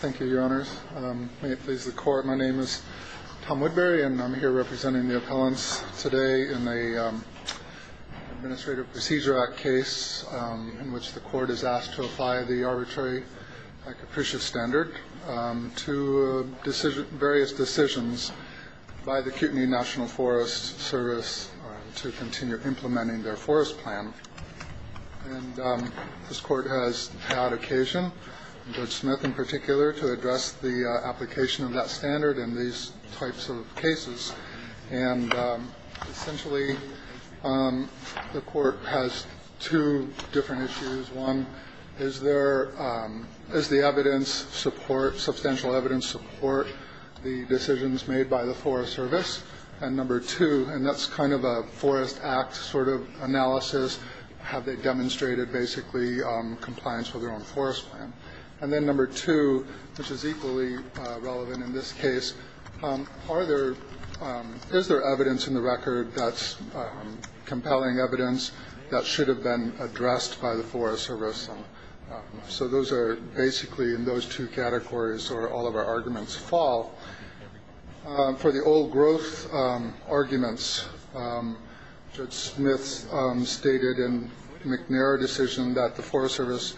Thank you, your honors. May it please the court, my name is Tom Woodbury and I'm here representing the appellants today in the Administrative Procedure Act case in which the court is asked to apply the arbitrary capricious standard to various decisions by the Kootenai National Forest Service to continue implementing their forest plan. This court has had occasion, Judge Smith and particular, to address the application of that standard in these types of cases and essentially the court has two different issues. One, is there, is the evidence support, substantial evidence support the decisions made by the Forest Service? And number two, and that's kind of a Forest Act sort of analysis, have they demonstrated basically compliance with their own forest plan? And then number two, which is equally relevant in this case, are there, is there evidence in the record that's compelling evidence that should have been addressed by the Forest Service? So those are basically in those two categories or all of our arguments fall. For the old growth arguments, Judge Smith stated in McNair decision that the Forest Service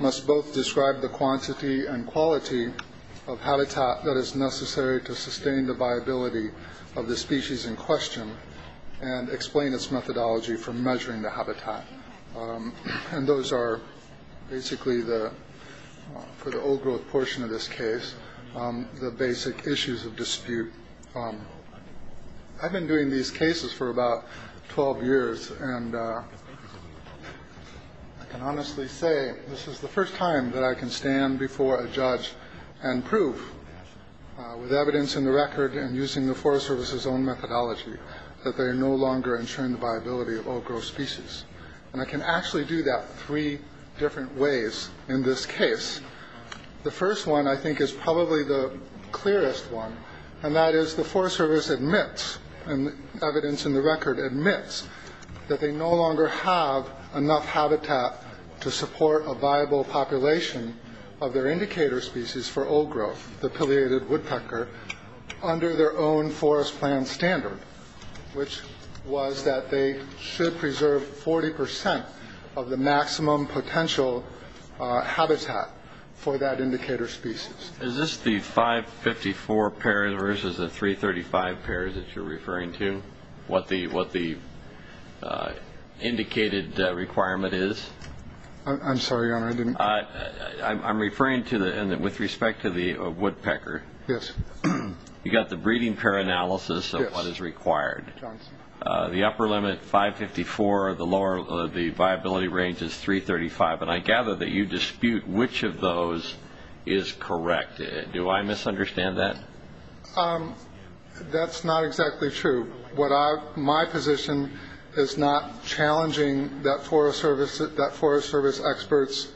must both describe the quantity and quality of habitat that is necessary to sustain the viability of the species in question and explain its methodology for measuring the habitat. And those are basically the, for the old growth portion of this case, the basic issues of dispute. I've been doing these cases for about 12 years and I can honestly say this is the first time that I can stand before a judge and prove with evidence in the record and using the Forest Service's own methodology that they are no longer ensuring the viability of all growth species. And I can actually do that three different ways in this case. The first one I think is probably the clearest one and that is the Forest Service admits, and evidence in the record admits, that they no longer have enough habitat to support a viable population of their indicator species for old growth, the pileated woodpecker, under their own forest plan standard, which was that they should preserve 40% of the maximum potential habitat for that indicator species. Is this the 554 pairs versus the 335 pairs that you're referring to? What the, what the indicated requirement is? I'm sorry, your honor, I didn't... I'm referring to the, with respect to the woodpecker. Yes. You got the breeding pair analysis of what is required. The upper limit 554, the lower, the viability range is 335, and I gather that you dispute which of those is correct. Do I misunderstand that? That's not exactly true. What I, my position is not challenging that Forest Service, that Forest Service experts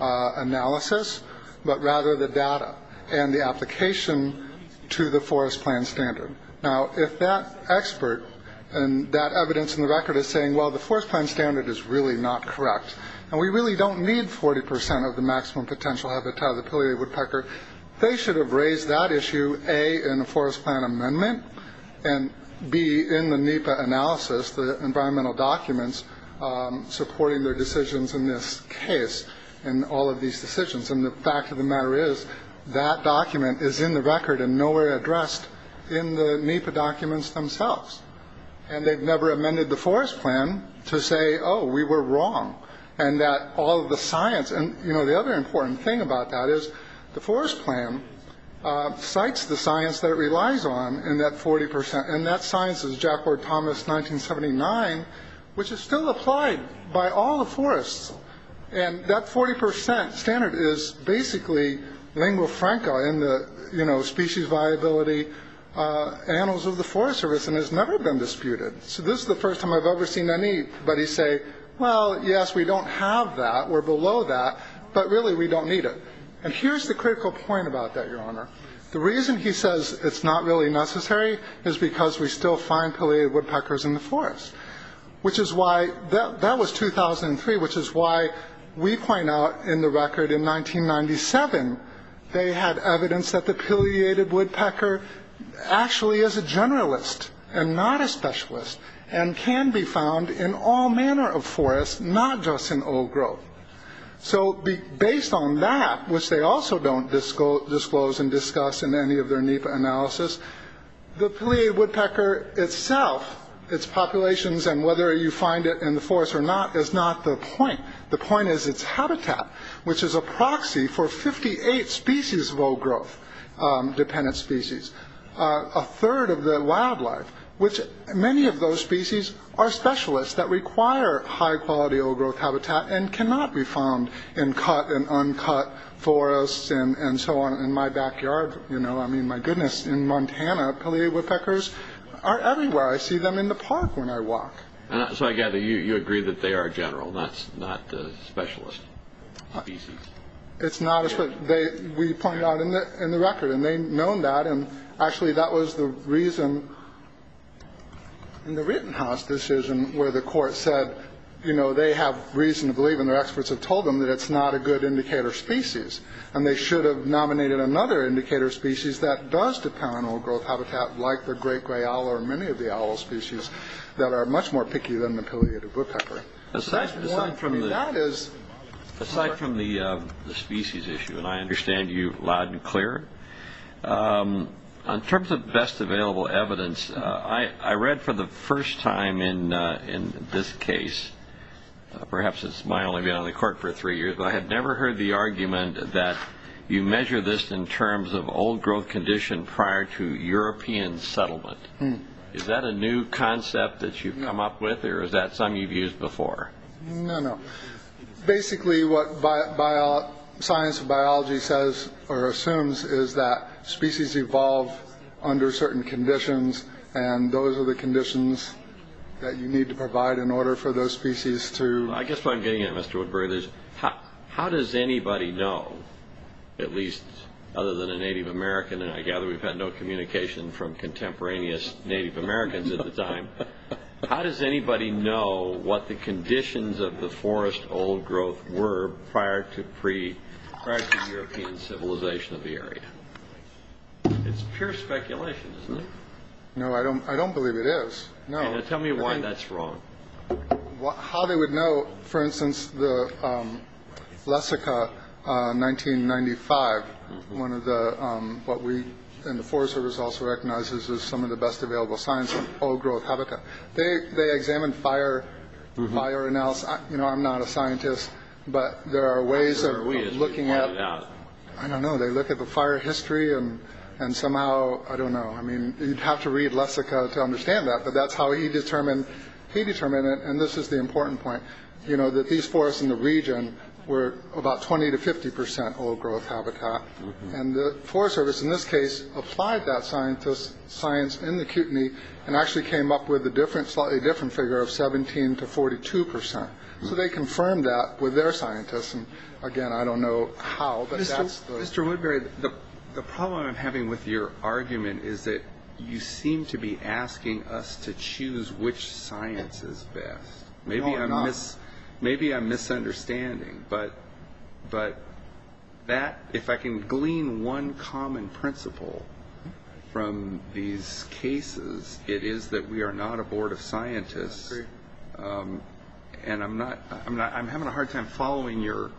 analysis, but rather the data and the application to the forest plan standard. Now if that expert, and that evidence in the record is saying, well the forest plan standard is really not correct, and we really don't need 40% of the maximum potential habitat of the pileated woodpecker, they should have raised that issue, A, in a forest plan amendment, and B, in the NEPA analysis, the environmental documents supporting their decisions in this case, and all of these decisions, and the fact of the matter is, that document is in the rest, in the NEPA documents themselves, and they've never amended the forest plan to say, oh we were wrong, and that all of the science, and you know the other important thing about that is, the forest plan cites the science that it relies on, and that 40%, and that science is Jack Ward Thomas 1979, which is still applied by all the forests, and that 40% standard is basically lingua franca in the, you know, species viability annals of the Forest Service, and has never been disputed. So this is the first time I've ever seen anybody say, well yes we don't have that, we're below that, but really we don't need it. And here's the critical point about that your honor, the reason he says it's not really necessary, is because we still find pileated woodpeckers in the forest, which is why, that was 2003, which is why we point out in the record in 1997, they had evidence that the pileated woodpecker actually is a generalist, and not a specialist, and can be found in all manner of forests, not just in old growth. So based on that, which they also don't disclose and discuss in any of their NEPA analysis, the pileated woodpecker itself, its populations, and whether you find it in the forest or not, is not the point. The point is its habitat, which is a proxy for 58 species of old growth dependent species. A third of the wildlife, which many of those species are specialists, that require high quality old growth habitat, and cannot be found in cut and uncut forests, and so on. In my backyard, you know, I mean my goodness, in Montana, pileated woodpeckers are everywhere. I see them in the park when I walk. And so I gather you agree that they are a general, not a specialist. It's not a specialist. We point out in the record, and they known that, and actually that was the reason in the Rittenhouse decision, where the court said, you know, they have reason to believe, and their experts have told them, that it's not a good indicator species. And they should have nominated another indicator species that does depend on old growth habitat, like the great gray owl, or many of the owl species, that are much more picky than pileated woodpecker. Aside from the species issue, and I understand you loud and clear, in terms of best available evidence, I read for the first time in in this case, perhaps it's my only been on the court for three years, I have never heard the argument that you measure this in terms of old growth condition prior to European settlement. Is that a new concept that you've come up with, or is that some you've used before? No, no. Basically what science and biology says, or assumes, is that species evolve under certain conditions, and those are the conditions that you need to provide in order for those species to... I guess what I'm getting at, Mr. Woodbury, is how does anybody know, at least other than a Native American, and I gather we've had no communication from does anybody know what the conditions of the forest old growth were prior to pre-European civilization of the area? It's pure speculation, isn't it? No, I don't I don't believe it is. Now tell me why that's wrong. How they would know, for instance, the Lessica 1995, one of the, what we and the Forest Service also recognizes as some of the best available signs of old growth habitat, they examined fire, fire analysis, you know, I'm not a scientist, but there are ways of looking at, I don't know, they look at the fire history and somehow, I don't know, I mean, you'd have to read Lessica to understand that, but that's how he determined, he determined it, and this is the important point, you know, that these forests in the region were about 20 to 50 percent old growth habitat, and the Forest Service, in this case, applied that science in the cuteney and actually came up with a different, slightly different figure of 17 to 42 percent, so they confirmed that with their scientists, and again, I don't know how, but that's... Mr. Woodbury, the problem I'm having with your argument is that you seem to be asking us to choose which science is best. Maybe I'm misunderstanding, but that, if I can glean one common principle from these cases, it is that we are not a board of scientists, and I'm not, I'm having a hard time following your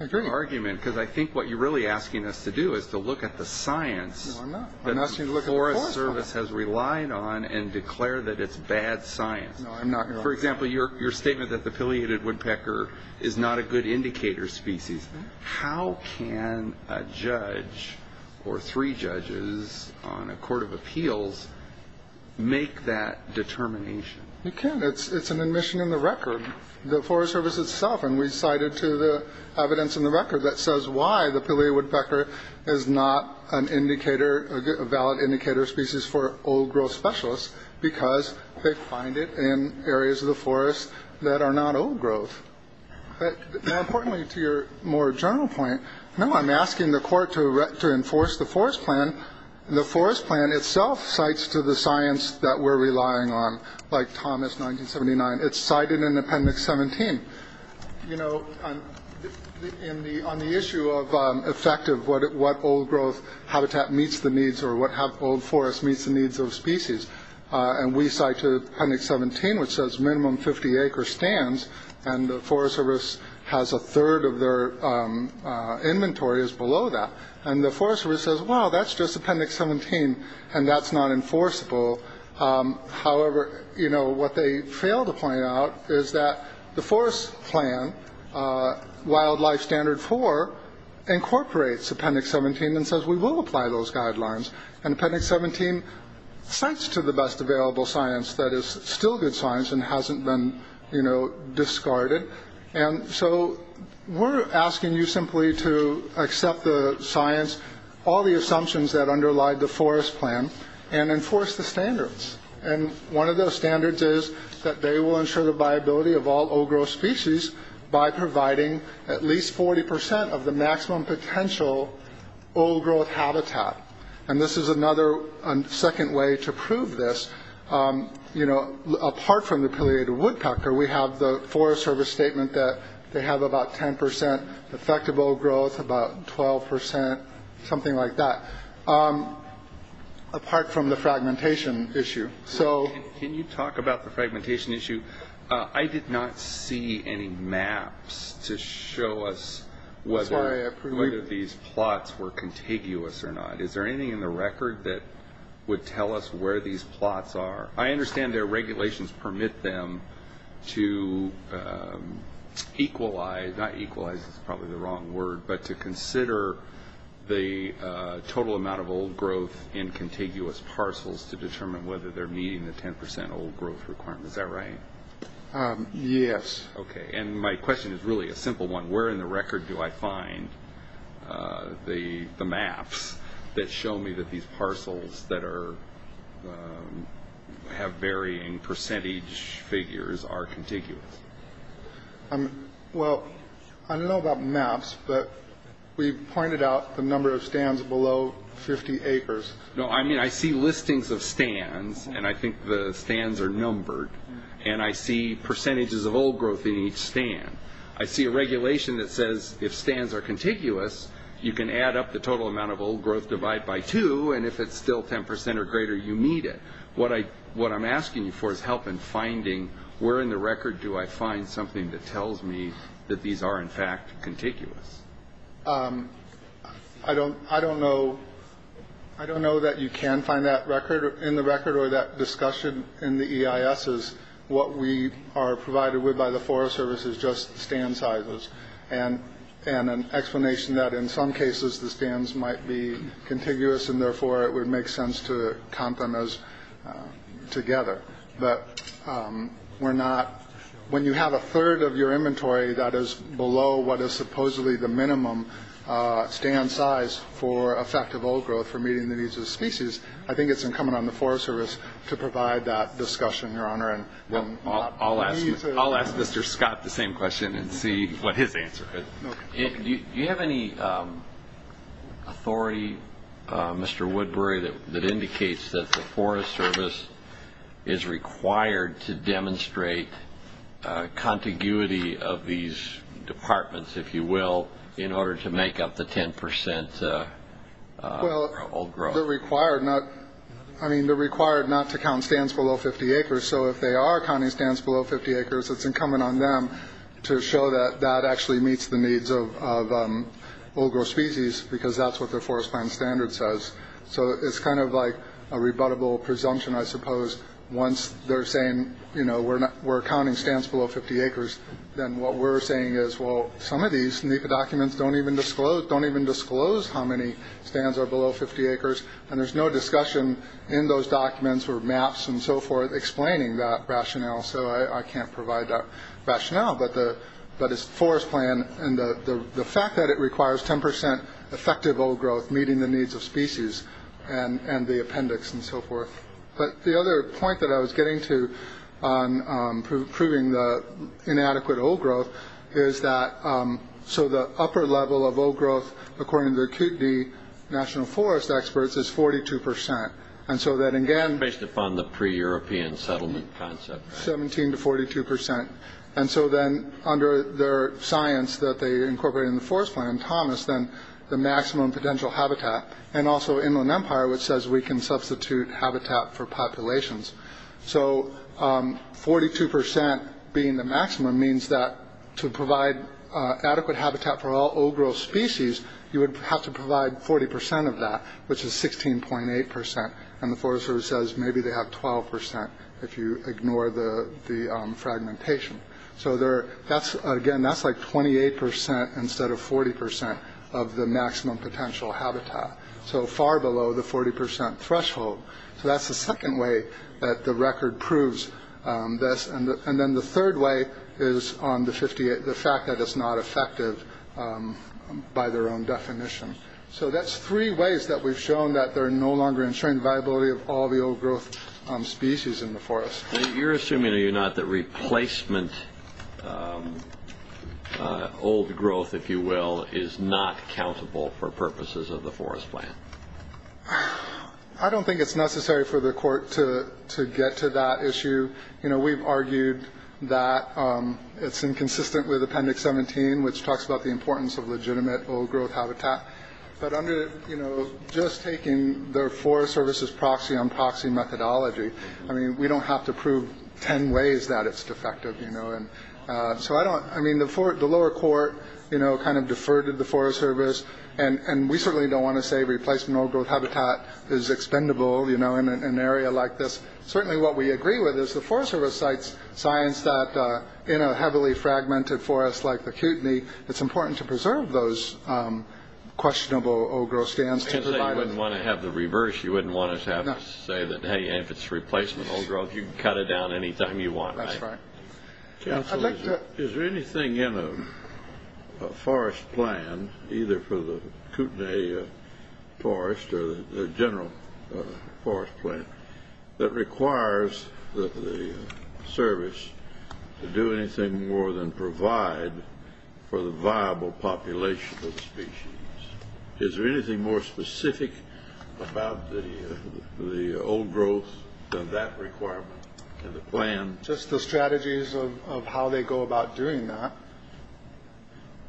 argument, because I think what you're really asking us to do is to look at the science that the Forest Service has relied on and declare that it's bad science. For example, your statement that the Pileated Woodpecker is not a good indicator species. How can a judge, or three judges on a court of appeals, make that determination? You can. It's an admission in the record. The Forest Service itself, and we cited to the evidence in the record, that says why the Pileated Woodpecker is not an indicator, a valid indicator species for old growth specialists, because they find it in areas of the forest that are not old growth. Importantly, to your more general point, no, I'm asking the court to enforce the forest plan. The forest plan itself cites to the science that we're relying on, like Thomas 1979. It's cited in Appendix 17, you know, on the on the issue of effective what what old growth habitat meets the needs or what have old forest meets the needs of species. And we cite to Appendix 17, which says minimum 50 acre stands, and the Forest Service has a third of their inventory is below that. And the Forest Service says, well, that's just Appendix 17, and that's not enforceable. However, you know, what they fail to point out is that the forest plan, Wildlife Standard 4, incorporates Appendix 17 and says we will apply those guidelines. And Appendix 17 cites to the best available science that is still good science and hasn't been, you know, discarded. And so we're asking you simply to accept the science, all the assumptions that underlie the forest plan, and enforce the standards. And one of those standards is that they will ensure the viability of all old growth species by providing at least 40% of the maximum potential old growth habitat. And this is another second way to prove this, you know, apart from the Pileated Woodpecker, we have the Forest Service statement that they have about 10% effective old growth, about 12%, something like that, apart from the fragmentation issue. So can you talk about the fragmentation issue? I did not see any maps to show us whether these plots were contiguous or not. Is there anything in the record that would tell us where these plots are? I understand their regulations permit them to equalize, not equalize is probably the wrong word, but to consider the total amount of old growth in contiguous parcels to determine whether they're meeting the 10% old growth requirement. Is that right? Yes. Okay, and my question is really a simple one. Where in the record do I find the maps that show me that these have varying percentage figures are contiguous? Well, I don't know about maps, but we pointed out the number of stands below 50 acres. No, I mean I see listings of stands and I think the stands are numbered, and I see percentages of old growth in each stand. I see a regulation that says if stands are contiguous, you can add up the total amount of old growth divide by two, and if it's still 10% or greater, you meet it. What I'm asking you for is help in finding where in the record do I find something that tells me that these are in fact contiguous. I don't know that you can find that record in the record or that discussion in the EISs. What we are provided with by the Forest Service is just stand sizes and an explanation that in some cases the sense to count them as together, but we're not... when you have a third of your inventory that is below what is supposedly the minimum stand size for effective old growth for meeting the needs of the species, I think it's incumbent on the Forest Service to provide that discussion, Your Honor, and I'll ask Mr. Scott the same question and see what his answer is. Do you have any authority, Mr. Woodbury, that indicates that the Forest Service is required to demonstrate contiguity of these departments, if you will, in order to make up the 10% old growth? Well, they're required not... I mean, they're required not to count stands below 50 acres, so if they are counting stands below 50 acres, it's incumbent on them to show that that actually meets the needs of old growth species, because that's what the Forest Plan Standard says. So it's kind of like a rebuttable presumption, I suppose, once they're saying, you know, we're not... we're counting stands below 50 acres, then what we're saying is, well, some of these NEPA documents don't even disclose... don't even disclose how many stands are below 50 acres, and there's no discussion in those documents or maps and so forth explaining that rationale, so I can't provide that rationale, but the Forest Plan and the fact that it requires 10% effective old growth meeting the needs of species and the appendix and so forth. But the other point that I was getting to on proving the inadequate old growth is that... so the upper level of old growth, according to the National Forest Experts, is 42%, and so that again... Based upon the pre-European settlement concept... 17 to 42%, and so then under their science that they incorporated in the Forest Plan, Thomas, then the maximum potential habitat, and also Inland Empire, which says we can substitute habitat for populations, so 42% being the maximum means that to provide adequate habitat for all old growth species, you would have to provide 40% of that, which is 16.8%, and the Forest Service says maybe they have 12% if you ignore the fragmentation. So there... that's again... that's like 28% instead of 40% of the maximum potential habitat, so far below the 40% threshold. So that's the second way that the record proves this, and then the third way is on the 58... the fact that it's not effective by their own definition. So that's three ways that we've shown that they're no longer ensuring the viability of all the old growth species in the forest. You're assuming, are you not, that replacement old growth, if you will, is not accountable for purposes of the Forest Plan? I don't think it's necessary for the court to to get to that issue. You know, there's the 2017, which talks about the importance of legitimate old growth habitat, but under, you know, just taking the Forest Service's proxy-unproxy methodology, I mean, we don't have to prove ten ways that it's defective, you know, and so I don't... I mean, the lower court, you know, kind of deferred to the Forest Service, and we certainly don't want to say replacement old growth habitat is expendable, you know, in an area like this. Certainly what we agree with is the Forest Service cites science that in a heavily fragmented forest like the Kootenai, it's important to preserve those questionable old growth stands. I wouldn't want to have the reverse. You wouldn't want to have to say that, hey, if it's replacement old growth, you can cut it down anytime you want. That's right. Counsel, is there anything in a forest plan, either for the Kootenai forest or the general forest plan, that requires the service to do anything more than provide for the viable population of the species? Is there anything more specific about the old growth than that requirement in the plan? Just the strategies of how they go about doing that.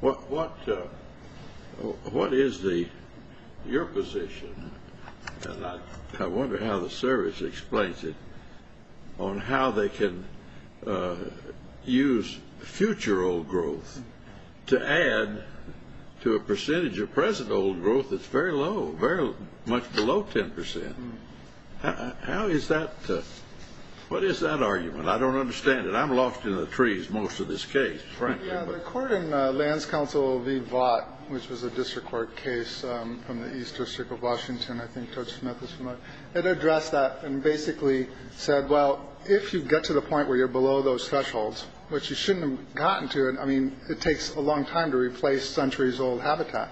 What is your position, and I don't understand it. I'm lost in the trees most of this case, frankly. Yeah, the court in Lands Council v. Vought, which was a district court case from the East District of Washington, I think Judge Smith is familiar, it addressed that and basically said, well, if you get to the point where you're below those it takes a long time to replace centuries old habitat.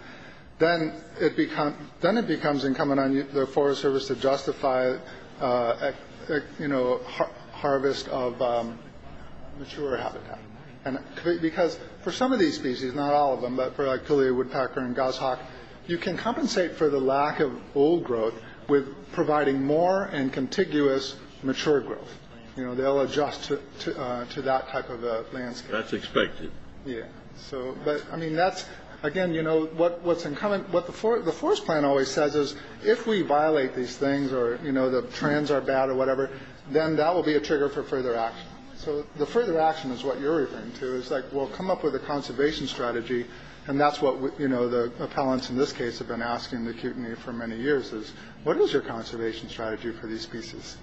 Then it becomes incumbent on the Forest Service to justify a harvest of mature habitat. Because for some of these species, not all of them, but for like Kalia, woodpecker and goshawk, you can compensate for the lack of old growth with providing more and contiguous mature growth. They'll adjust to that type of landscape. That's expected. Again, what the forest plan always says is, if we violate these things or the trends are bad or whatever, then that will be a trigger for further action. So the further action is what you're referring to. It's like, we'll come up with a conservation strategy, and that's what the appellants in this case have been asking the Kootenai for many years is, what is your conservation strategy for these species?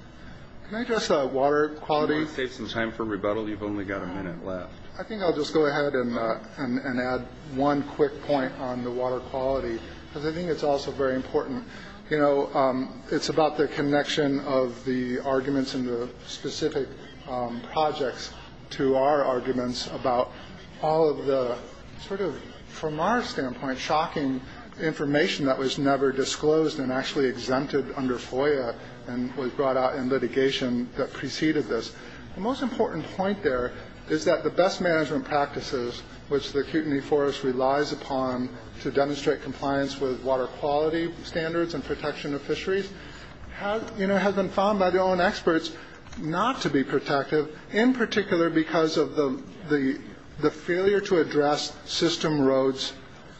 Can I address water quality? If you want to take some time for rebuttal, you've only got a minute left. I think I'll just go ahead and add one quick point on the water quality. Because I think it's also very important. It's about the connection of the arguments in the specific projects to our arguments about all of the, from our standpoint, shocking information that was never disclosed and actually exempted under FOIA and was brought out in litigation that preceded this. The most important point there is that the best management practices, which the Kootenai Forest relies upon to demonstrate compliance with water quality standards and protection of fisheries, have been found by their own experts not to be protective, in particular because of the failure to address system roads,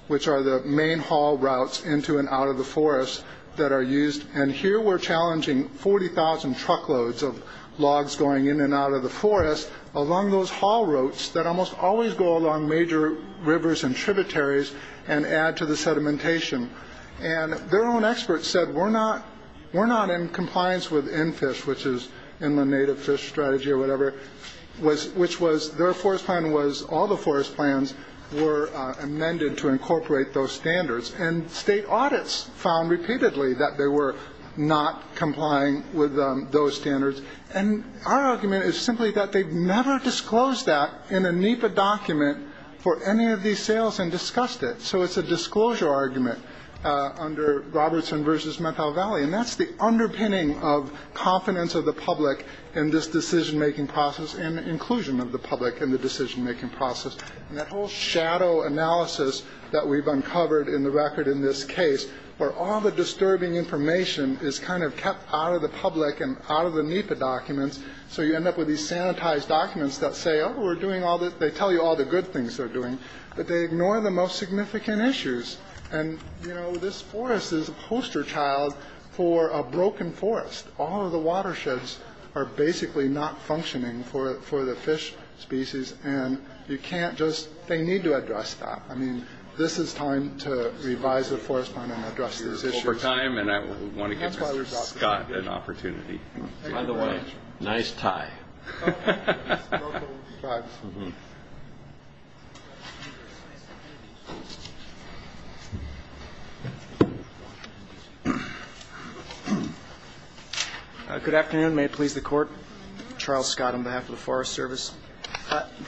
which are the main haul routes into and out of the forest that are used. And here we're challenging 40,000 truckloads of logs going in and out of the forest along those haul routes that almost always go along major rivers and tributaries and add to the sedimentation. And their own experts said, we're not in compliance with NFISH, which is Inland Native Fish Strategy or whatever, which was their forest plan was all the forest plans were amended to incorporate those standards. And state audits found repeatedly that they were not complying with those standards. And our argument is simply that they've never disclosed that in a NEPA document for any of these sales and discussed it. So it's a disclosure argument under Robertson v. Methow Valley. And that's the underpinning of confidence of the public in this decision-making process and inclusion of the public in the decision-making process. And that whole shadow analysis that we've uncovered in the record in this case, where all the disturbing information is kind of kept out of the public and out of the NEPA documents. So you end up with these sanitized documents that say, oh, we're doing all this. They tell you all the good things they're doing, but they ignore the most significant issues. And, you know, this forest is a poster child for a broken forest. All of the watersheds are basically not functioning for the fish species. And you can't just, they need to address that. I mean, this is time to revise the forest plan and address these issues. And I want to give Scott an opportunity. Good afternoon. May it please the Court. Charles Scott on behalf of the Forest Service.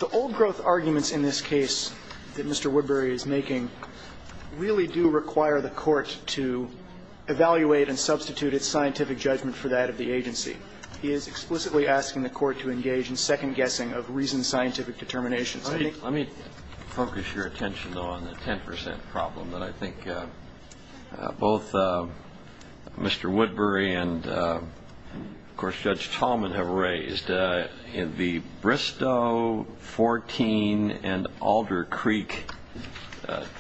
The old growth arguments in this case that Mr. Woodbury is making really do require the Court to evaluate and substitute its scientific judgment for that of the agency. He is explicitly asking the Court to engage in second-guessing of reasoned scientific determinations. Let me focus your attention, though, on the 10 percent problem that I think both Mr. Woodbury and, of course, Judge Tallman have raised. In the Bristow 14 and Alder Creek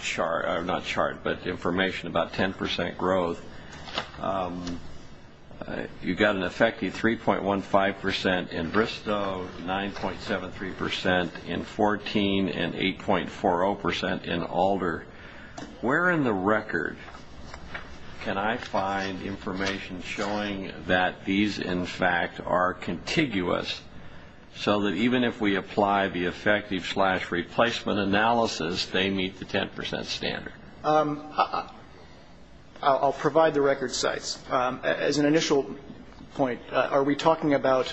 chart, not chart, but information about 10 percent growth, you've got an effective 3.15 percent in Bristow, 9.73 percent in 14, and 8.40 percent in Alder. Where in the record can I find information showing that these, in fact, are meet the 10 percent standard? I'll provide the record sites. As an initial point, are we talking about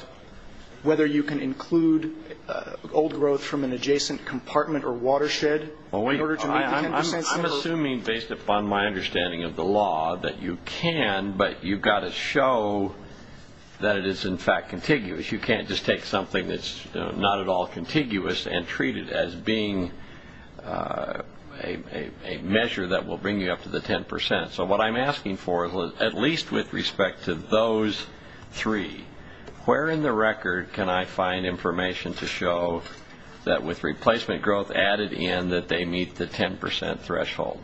whether you can include old growth from an adjacent compartment or watershed in order to meet the 10 percent standard? I'm assuming, based upon my understanding of the law, that you can, but you've got to show that it is, in fact, contiguous. You can't just take something that's not at all a measure that will bring you up to the 10 percent. So what I'm asking for, at least with respect to those three, where in the record can I find information to show that with replacement growth added in that they meet the 10 percent threshold?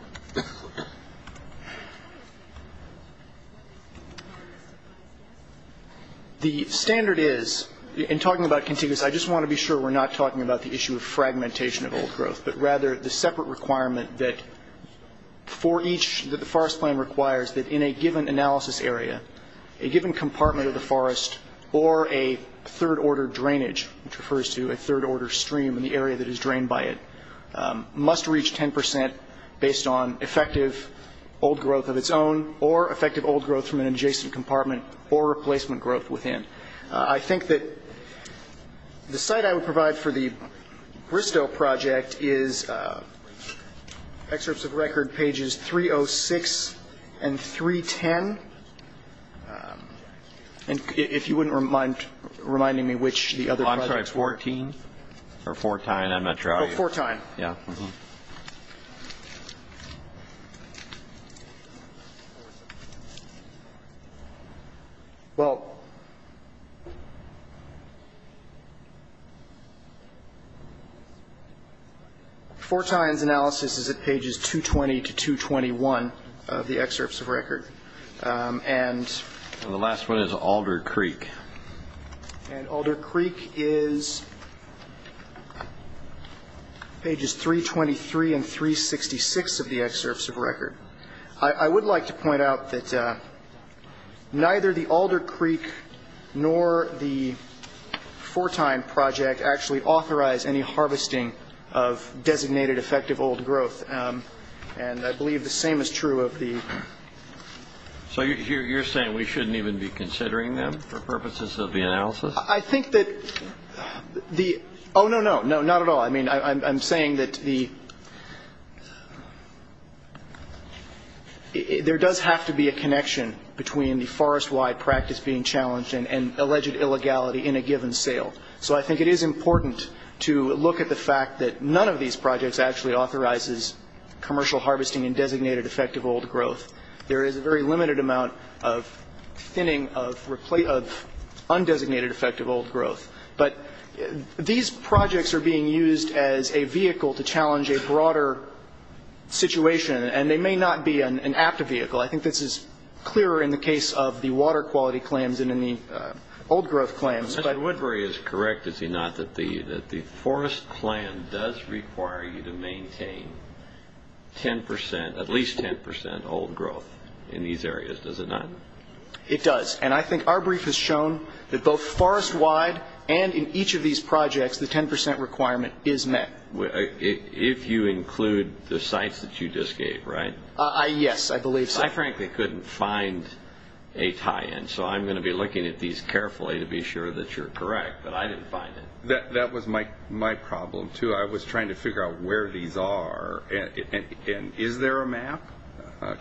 The standard is, in talking about contiguous, I just want to be sure we're not talking about the issue of fragmentation of old growth, but rather the separate requirement that for each, that the forest plan requires that in a given analysis area, a given compartment of the forest, or a third-order drainage, which refers to a third-order stream in the area that is drained by it, must reach 10 percent based on effective old growth of its own or effective old growth from an adjacent compartment or replacement growth within. I think that the site I would provide for the Bristow project is excerpts of record pages 306 and 310. And if you wouldn't mind reminding me which the other projects Well, I'm sorry, 14 or Fortyne, I'm not sure how you do it. Oh, Fortyne. Well, Fortyne's analysis is at pages 220 to 221 of the excerpts of record. And the last one is Alder Creek. And Alder Creek is pages 323 and 366 of the excerpts of record. I would like to point out that neither the Alder Creek nor the Fortyne project actually authorized any harvesting of designated effective old growth. And I believe the same is true of the So you're saying we shouldn't even be considering them for purposes of the analysis? I think that the, oh, no, no, no, not at all. I mean, I'm saying that the, there does have to be a connection between the forest-wide practice being challenged and alleged illegality in a given sale. So I think it is important to look at the fact that none of these projects actually authorizes commercial harvesting and designated effective old growth. There is a very limited amount of thinning of undesignated effective old growth. But these projects are being used as a vehicle to challenge a broader situation, and they may not be an apt vehicle. I think this is clearer in the case of the water quality claims than in the old growth claims. Mr. Woodbury is correct, is he not, that the forest plan does require you to maintain 10%, at least 10% old growth in these areas, does it not? It does. And I think our brief has shown that both forest-wide and in each of these projects, the 10% requirement is met. If you include the sites that you just gave, right? Yes, I believe so. I frankly couldn't find a tie-in, so I'm going to be looking at these carefully to be sure that you're correct, but I didn't find it. That was my problem, too. I was trying to figure out where these are, and is there a map?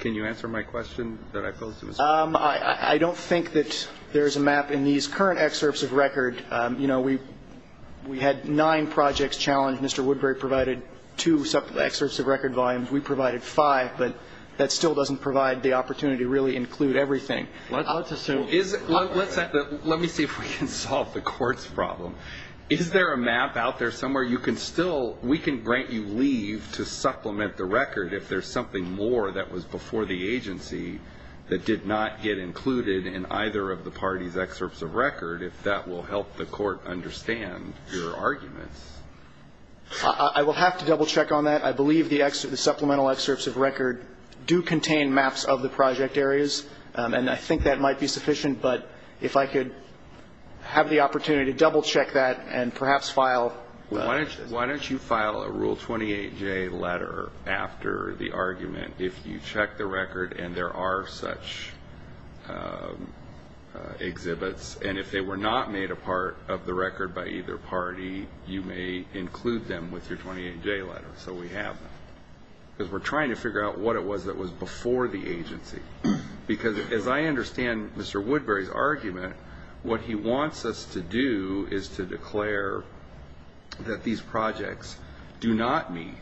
Can you answer my question that I posed to Mr. Woodbury? I don't think that there's a map in these current excerpts of record. You know, we had nine projects challenged. Mr. Woodbury provided two excerpts of record volumes. We provided five, but that still doesn't provide the opportunity to really include everything. Let's assume. Let me see if we can solve the court's problem. Is there a map out there somewhere you can still we can grant you leave to supplement the record if there's something more that was before the agency that did not get included in either of the parties' excerpts of record, if that will help the court understand your arguments? I will have to double-check on that. I believe the supplemental excerpts of record do contain maps of the project areas, and I think that might be sufficient. But if I could have the opportunity to double-check that and perhaps file. Why don't you file a Rule 28J letter after the argument if you check the record and there are such exhibits, and if they were not made a part of the record by either party, you may include them with your 28J letter. So we have them. Because we're trying to figure out what it was that was before the agency. Because as I understand Mr. Woodbury's argument, what he wants us to do is to declare that these projects do not meet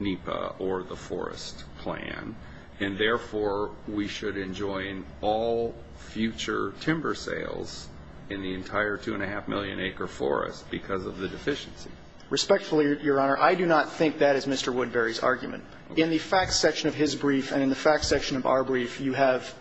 NEPA or the forest plan, and therefore we should enjoin all future timber sales in the entire two-and-a-half-million-acre forest because of the deficiency. Respectfully, Your Honor, I do not think that is Mr. Woodbury's argument. In the facts section of his brief and in the facts section of our brief, you have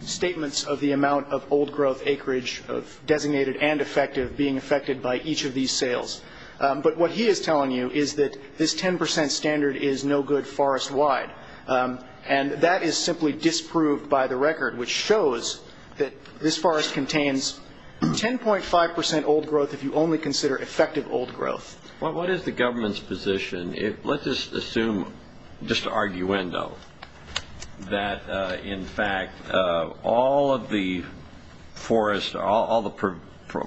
statements of the amount of old-growth acreage of designated and effective being affected by each of these sales. But what he is telling you is that this 10 percent standard is no good forest-wide. And that is simply disproved by the record, which shows that this forest contains 10.5 percent old-growth if you only consider effective old-growth. Well, what is the government's position? Let's just assume, just arguendo, that in fact all of the forests, all the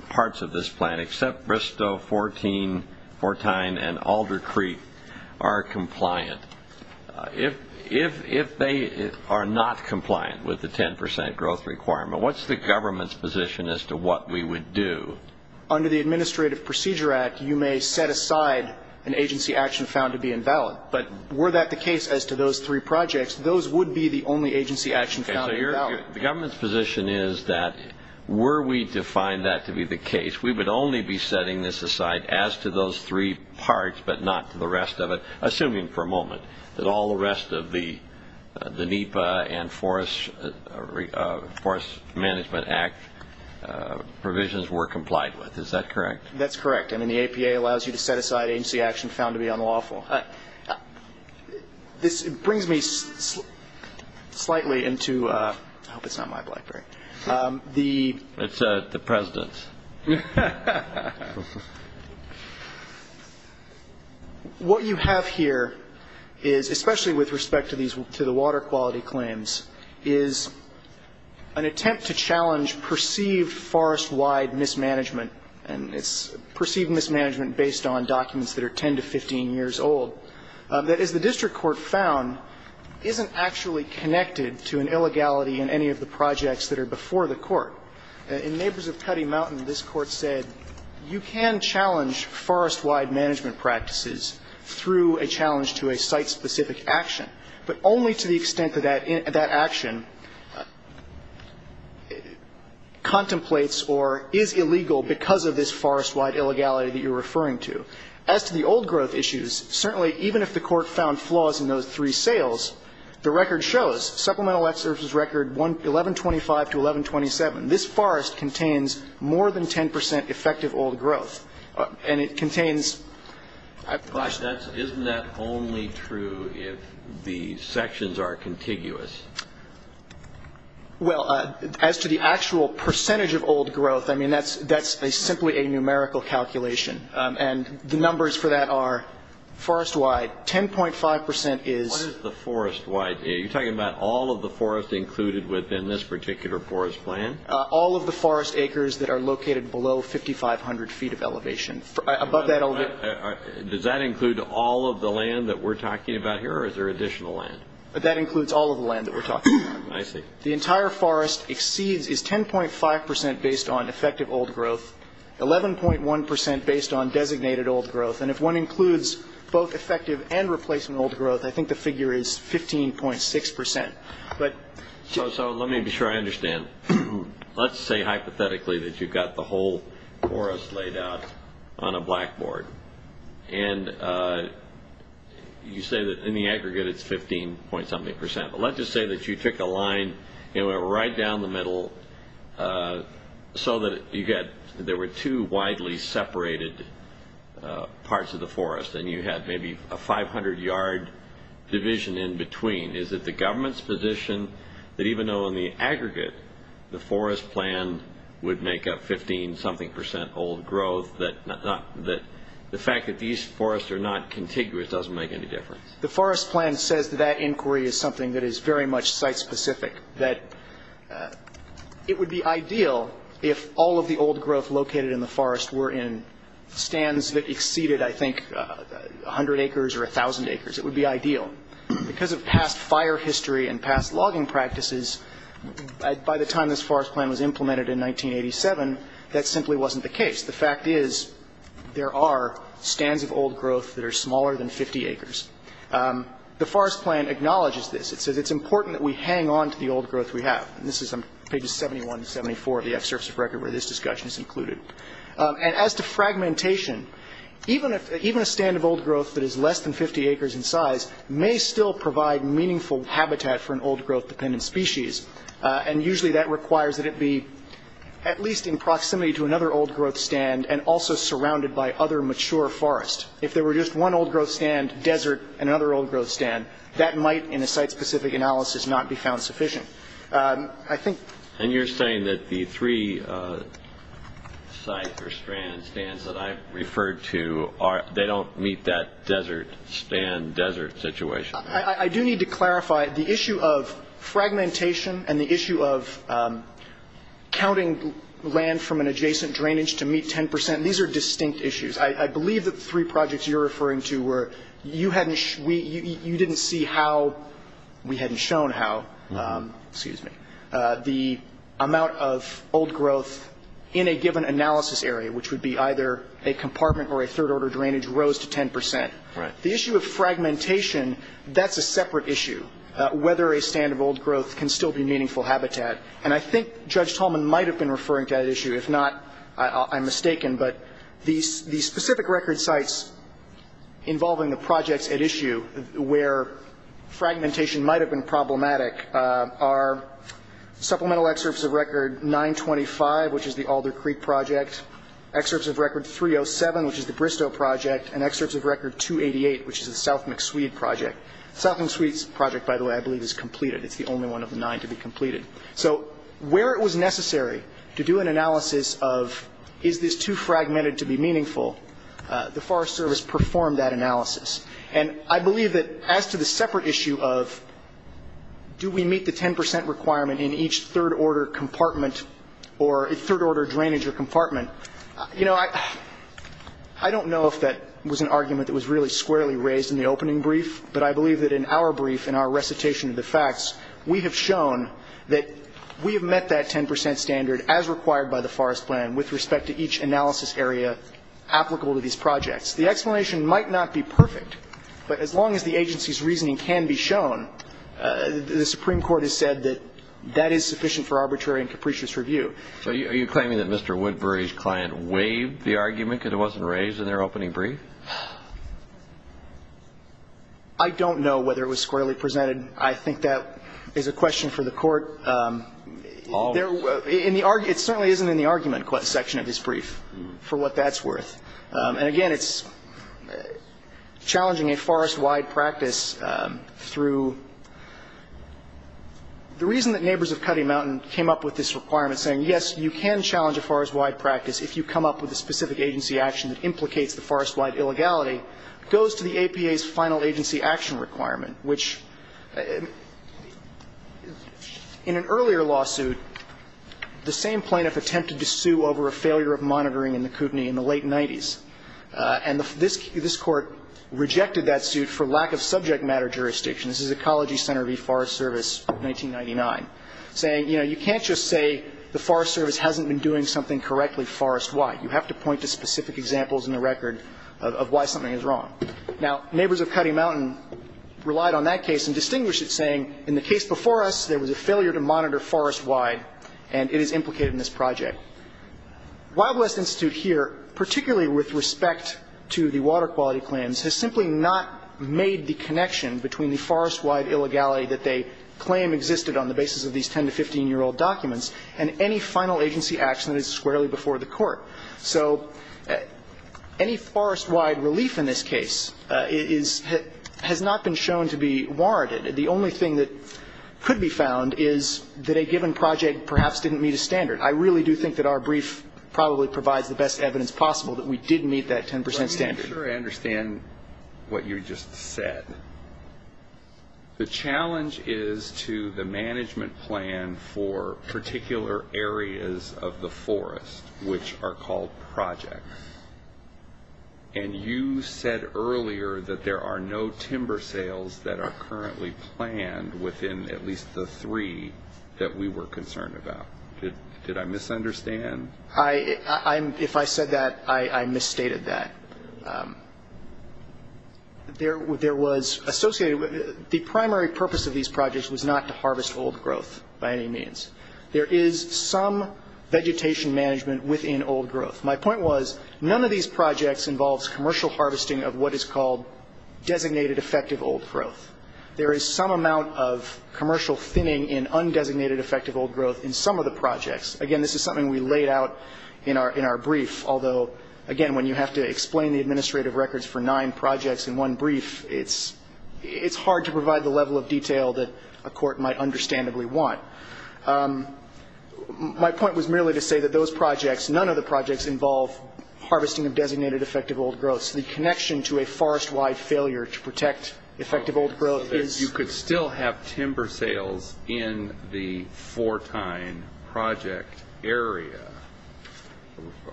parts of this plant except Bristow, Fourteen, Fortyne, and Alder Creek are compliant. If they are not compliant with the 10 percent growth requirement, what is the government's position as to what we would do? Under the Administrative Procedure Act, you may set aside an agency action found to be invalid. But were that the case as to those three projects, those would be the only agency action found invalid. The government's position is that were we to find that to be the case, we would only be setting this aside as to those three parts but not to the rest of it, assuming for a moment that all the rest of the NEPA and Forest Management Act provisions were complied with. Is that correct? That's correct. I mean, the APA allows you to set aside agency action found to be unlawful. This brings me slightly into – I hope it's not my blackberry. It's the President's. What you have here is, especially with respect to these – to the water quality claims, is an attempt to challenge perceived forest-wide mismanagement, and it's perceived mismanagement based on documents that are 10 to 15 years old, that, as the district court found, isn't actually connected to an illegality in any of the projects that are before the court. In Neighbors of Cutty Mountain, this Court said you can challenge forest-wide management practices through a challenge to a site-specific action, but only to the extent that that action contemplates or is illegal because of this forest-wide illegality that you're referring to. As to the old growth issues, certainly even if the Court found flaws in those three the record shows, Supplemental Excerpt's record 1125 to 1127, this forest contains more than 10 percent effective old growth. And it contains – I have a question. Isn't that only true if the sections are contiguous? Well, as to the actual percentage of old growth, I mean, that's simply a numerical calculation. And the numbers for that are forest-wide, 10.5 percent is – What is the forest-wide? Are you talking about all of the forest included within this particular forest plan? All of the forest acres that are located below 5,500 feet of elevation. Above that – Does that include all of the land that we're talking about here, or is there additional land? That includes all of the land that we're talking about. I see. The entire forest exceeds – is 10.5 percent based on effective old growth, 11.1 percent based on designated old growth. And if one includes both effective and replacement old growth, I think the figure is 15.6 percent. So let me be sure I understand. Let's say hypothetically that you've got the whole forest laid out on a blackboard, and you say that in the aggregate it's 15-point-something percent. But let's just say that you took a line right down the middle so that you get – there were two widely separated parts of the forest, and you had maybe a 500-yard division in between. Is it the government's position that even though in the aggregate the forest plan would make up 15-something percent old growth, that the fact that these forests are not contiguous doesn't make any difference? The forest plan says that that inquiry is something that is very much site-specific, that it would be ideal if all of the old growth located in the forest were in stands that exceeded, I think, 100 acres or 1,000 acres. It would be ideal. Because of past fire history and past logging practices, by the time this forest plan was implemented in 1987, that simply wasn't the case. The fact is there are stands of old growth that are smaller than 50 acres. The forest plan acknowledges this. It says it's important that we hang on to the old growth we have. And this is on pages 71 to 74 of the excerpts of record where this discussion is included. And as to fragmentation, even a stand of old growth that is less than 50 acres in size may still provide meaningful habitat for an old growth-dependent species, and usually that requires that it be at least in proximity to another old growth stand and also surrounded by other mature forests. If there were just one old growth stand, desert, and another old growth stand, that might, in a site-specific analysis, not be found sufficient. And you're saying that the three sites or stands that I've referred to, they don't meet that desert-stand-desert situation. I do need to clarify the issue of fragmentation and the issue of counting land from an adjacent drainage to meet 10 percent. These are distinct issues. I believe that the three projects you're referring to were you didn't see how we hadn't shown how the amount of old growth in a given analysis area, which would be either a compartment or a third-order drainage, rose to 10 percent. The issue of fragmentation, that's a separate issue, whether a stand of old growth can still be meaningful habitat. And I think Judge Tolman might have been referring to that issue. If not, I'm mistaken. But the specific record sites involving the projects at issue where fragmentation might have been problematic are supplemental excerpts of record 925, which is the Alder Creek Project, excerpts of record 307, which is the Bristow Project, and excerpts of record 288, which is the South McSwede Project. The South McSwede Project, by the way, I believe is completed. It's the only one of the nine to be completed. So where it was necessary to do an analysis of is this too fragmented to be meaningful, the Forest Service performed that analysis. And I believe that as to the separate issue of do we meet the 10 percent requirement in each third-order compartment or third-order drainage or compartment, you know, I don't know if that was an argument that was really squarely raised in the opening brief, but I believe that in our brief and our recitation of the facts, we have shown that we have met that 10 percent standard as required by the Forest Plan with respect to each analysis area applicable to these projects. The explanation might not be perfect, but as long as the agency's reasoning can be shown, the Supreme Court has said that that is sufficient for arbitrary and capricious review. So are you claiming that Mr. Woodbury's client waived the argument because it wasn't raised in their opening brief? I don't know whether it was squarely presented. I think that is a question for the Court. It certainly isn't in the argument section of his brief, for what that's worth. And again, it's challenging a forest-wide practice through the reason that Neighbors of Cutty Mountain came up with this requirement saying, yes, you can challenge a forest-wide practice if you come up with a specific agency action that implicates the forest-wide illegality, goes to the APA's final agency action requirement, which in an earlier lawsuit, the same plaintiff attempted to sue over a failure of monitoring in the Kootenai in the late 90s. And this Court rejected that suit for lack of subject matter jurisdiction. This is Ecology Center v. Forest Service, 1999, saying, you know, you can't just say the Forest Service hasn't been doing something correctly forest-wide. You have to point to specific examples in the record of why something is wrong. Now, Neighbors of Cutty Mountain relied on that case and distinguished it, saying, in the case before us, there was a failure to monitor forest-wide, and it is implicated in this project. Wild West Institute here, particularly with respect to the water quality claims, has simply not made the connection between the forest-wide illegality that they claim existed on the basis of these 10- to 15-year-old documents and any final agency action that is squarely before the Court. So any forest-wide relief in this case is – has not been shown to be warranted. The only thing that could be found is that a given project perhaps didn't meet a standard. I really do think that our brief probably provides the best evidence possible that we did meet that 10 percent standard. But I'm not sure I understand what you just said. The challenge is to the management plan for particular areas of the forest, which are called projects. And you said earlier that there are no timber sales that are currently planned within at least the three that we were concerned about. Did I misunderstand? If I said that, I misstated that. There was associated – the primary purpose of these projects was not to harvest old growth by any means. There is some vegetation management within old growth. My point was none of these projects involves commercial harvesting of what is called designated effective old growth. There is some amount of commercial thinning in undesignated effective old growth in some of the projects. Again, this is something we laid out in our brief, although, again, when you have to explain the administrative records for nine projects in one brief, it's hard to provide the level of detail that a court might understandably want. My point was merely to say that those projects, none of the projects involve harvesting of designated effective old growth. So the connection to a forest-wide failure to protect effective old growth is – There are timber sales in the Fortyne project area.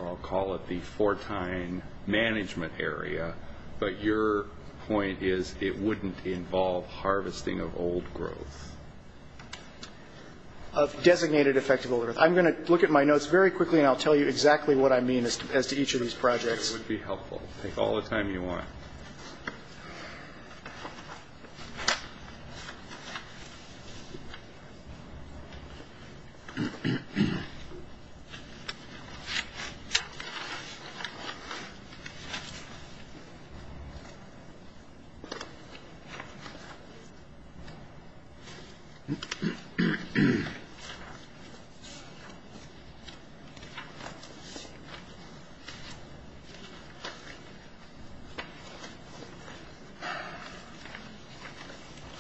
I'll call it the Fortyne management area, but your point is it wouldn't involve harvesting of old growth. Of designated effective old growth. I'm going to look at my notes very quickly, and I'll tell you exactly what I mean as to each of these projects. It would be helpful. Take all the time you want.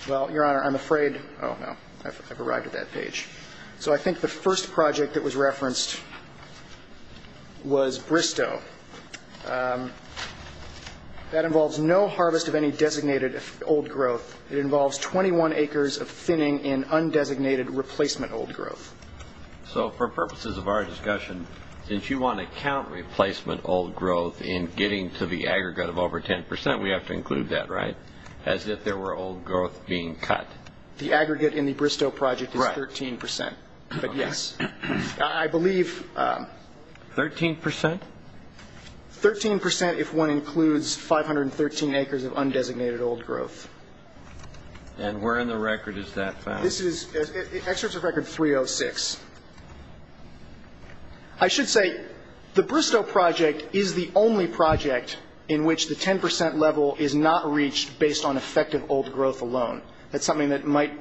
Well, Your Honor, I'm afraid – oh, no, I've arrived at that page. So I think the first project that was referenced was Bristow. That involves no harvest of any designated old growth. It involves 21 acres of thinning in undesignated replacement old growth. So for purposes of our discussion, since you want to count replacement old growth in getting to the aggregate of over 10 percent, we have to include that, right, as if there were old growth being cut? The aggregate in the Bristow project is 13 percent, but yes. I believe – 13 percent? 13 percent if one includes 513 acres of undesignated old growth. And where in the record is that found? This is excerpts of record 306. I should say the Bristow project is the only project in which the 10 percent level is not reached based on effective old growth alone. That's something that might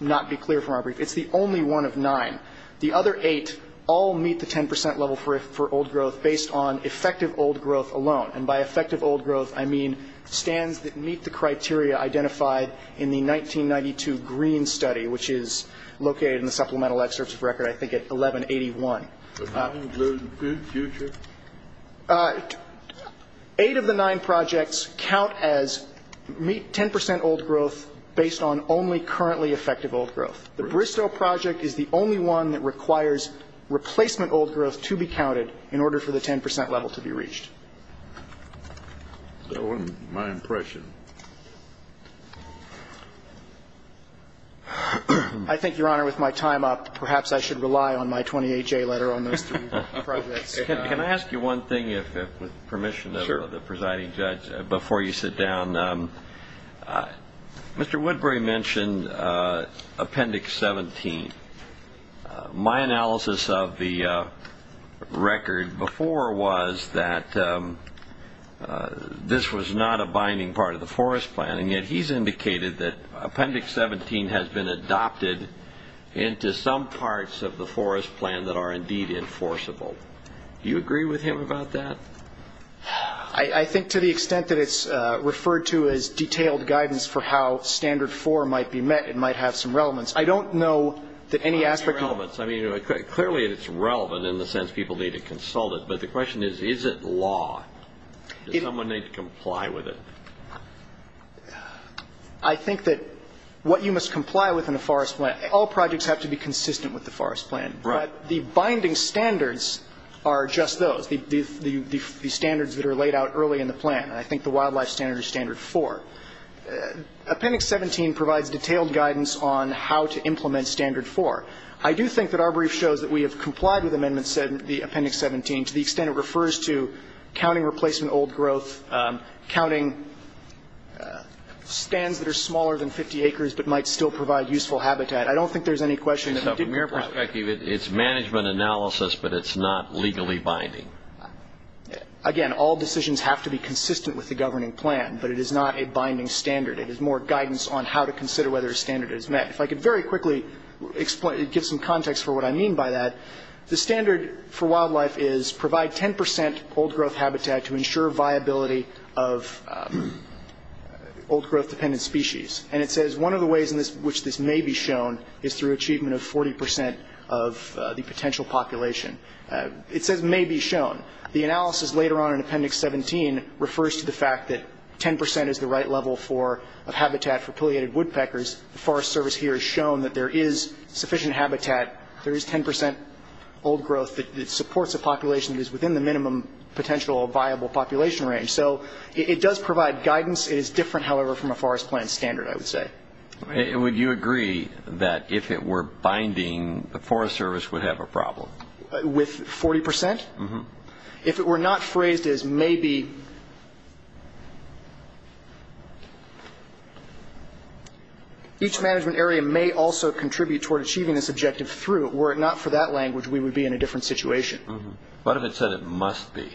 not be clear from our brief. It's the only one of nine. The other eight all meet the 10 percent level for old growth based on effective old growth alone. The Bristow project is the only one that requires replacement old growth to be counted in order for the 10 percent level to be reached. I think, Your Honor, with my time up, perhaps I should rely on my 28-J letter on those three projects. Can I ask you one thing, with permission of the presiding judge, before you sit down? Mr. Woodbury mentioned Appendix 17. My analysis of the record before was that this was not a binding part of the forest plan, and yet he's indicated that Appendix 17 has been adopted into some parts of the forest plan that are indeed enforceable. Do you agree with him about that? I think to the extent that it's referred to as detailed guidance for how Standard 4 might be met, it might have some relevance. I don't know that any aspect of it. I mean, clearly it's relevant in the sense people need to consult it, but the question is, is it law? Does someone need to comply with it? I think that what you must comply with in the forest plan, all projects have to be consistent with the forest plan. Right. But the binding standards are just those, the standards that are laid out early in the plan. I think the wildlife standard is Standard 4. Appendix 17 provides detailed guidance on how to implement Standard 4. I do think that our brief shows that we have complied with amendments in Appendix 17 to the extent it refers to counting replacement old growth, counting stands that are smaller than 50 acres but might still provide useful habitat. I don't think there's any question that we didn't. From your perspective, it's management analysis, but it's not legally binding. Again, all decisions have to be consistent with the governing plan, but it is not a binding standard. It is more guidance on how to consider whether a standard is met. If I could very quickly give some context for what I mean by that, the standard for wildlife is provide 10 percent old growth habitat to ensure viability of old growth dependent species. And it says one of the ways in which this may be shown is through achievement of 40 percent of the potential population. It says may be shown. The analysis later on in Appendix 17 refers to the fact that 10 percent is the right level of habitat for pileated woodpeckers. The Forest Service here has shown that there is sufficient habitat. There is 10 percent old growth that supports a population that is within the minimum potential viable population range. So it does provide guidance. It is different, however, from a forest plan standard, I would say. Would you agree that if it were binding, the Forest Service would have a problem? With 40 percent? If it were not phrased as may be, each management area may also contribute toward achieving this objective through. Were it not for that language, we would be in a different situation. But if it said it must be,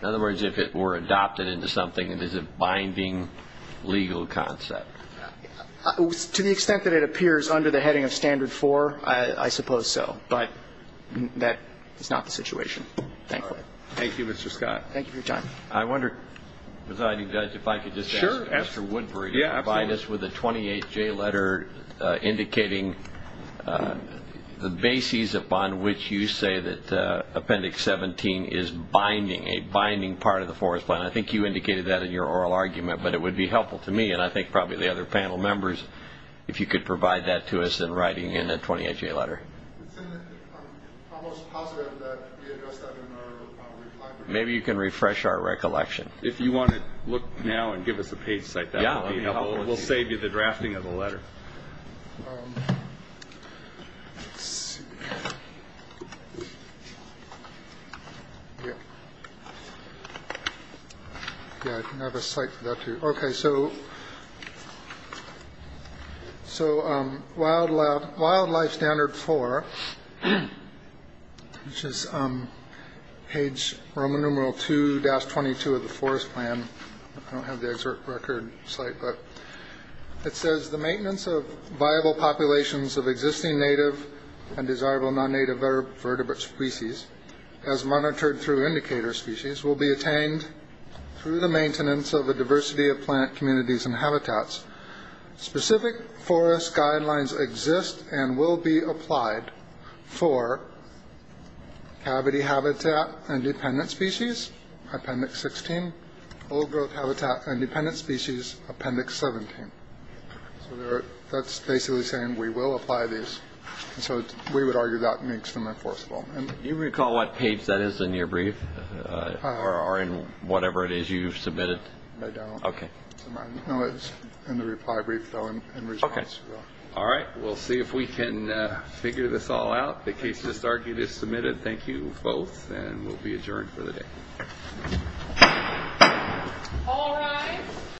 in other words, if it were adopted into something, it is a binding legal concept. To the extent that it appears under the heading of standard four, I suppose so. But that is not the situation, thankfully. Thank you, Mr. Scott. Thank you for your time. I wonder, Presiding Judge, if I could just ask Mr. Woodbury to provide us with a 28-J letter indicating the bases upon which you say that Appendix 17 is binding, a binding part of the forest plan. I think you indicated that in your oral argument, but it would be helpful to me and I think probably the other panel members if you could provide that to us in writing in a 28-J letter. I'm almost positive that we addressed that in our recollection. Maybe you can refresh our recollection. If you want to look now and give us a page like that, we'll save you the drafting of the letter. Let's see. Yeah, I can have a site for that, too. Okay, so wildlife standard four, which is page Roman numeral 2-22 of the forest plan. I don't have the excerpt record site, but it says, the maintenance of viable populations of existing native and desirable non-native vertebrate species as monitored through indicator species will be attained through the maintenance of a diversity of plant communities and habitats. Specific forest guidelines exist and will be applied for cavity habitat and dependent species, Appendix 16, old growth habitat and dependent species, Appendix 17. So that's basically saying we will apply these. So we would argue that makes them enforceable. Do you recall what page that is in your brief or in whatever it is you submitted? I don't. Okay. No, it's in the reply brief, though, in response. Okay. All right, we'll see if we can figure this all out. The case just argued is submitted. Thank you both, and we'll be adjourned for the day. All rise.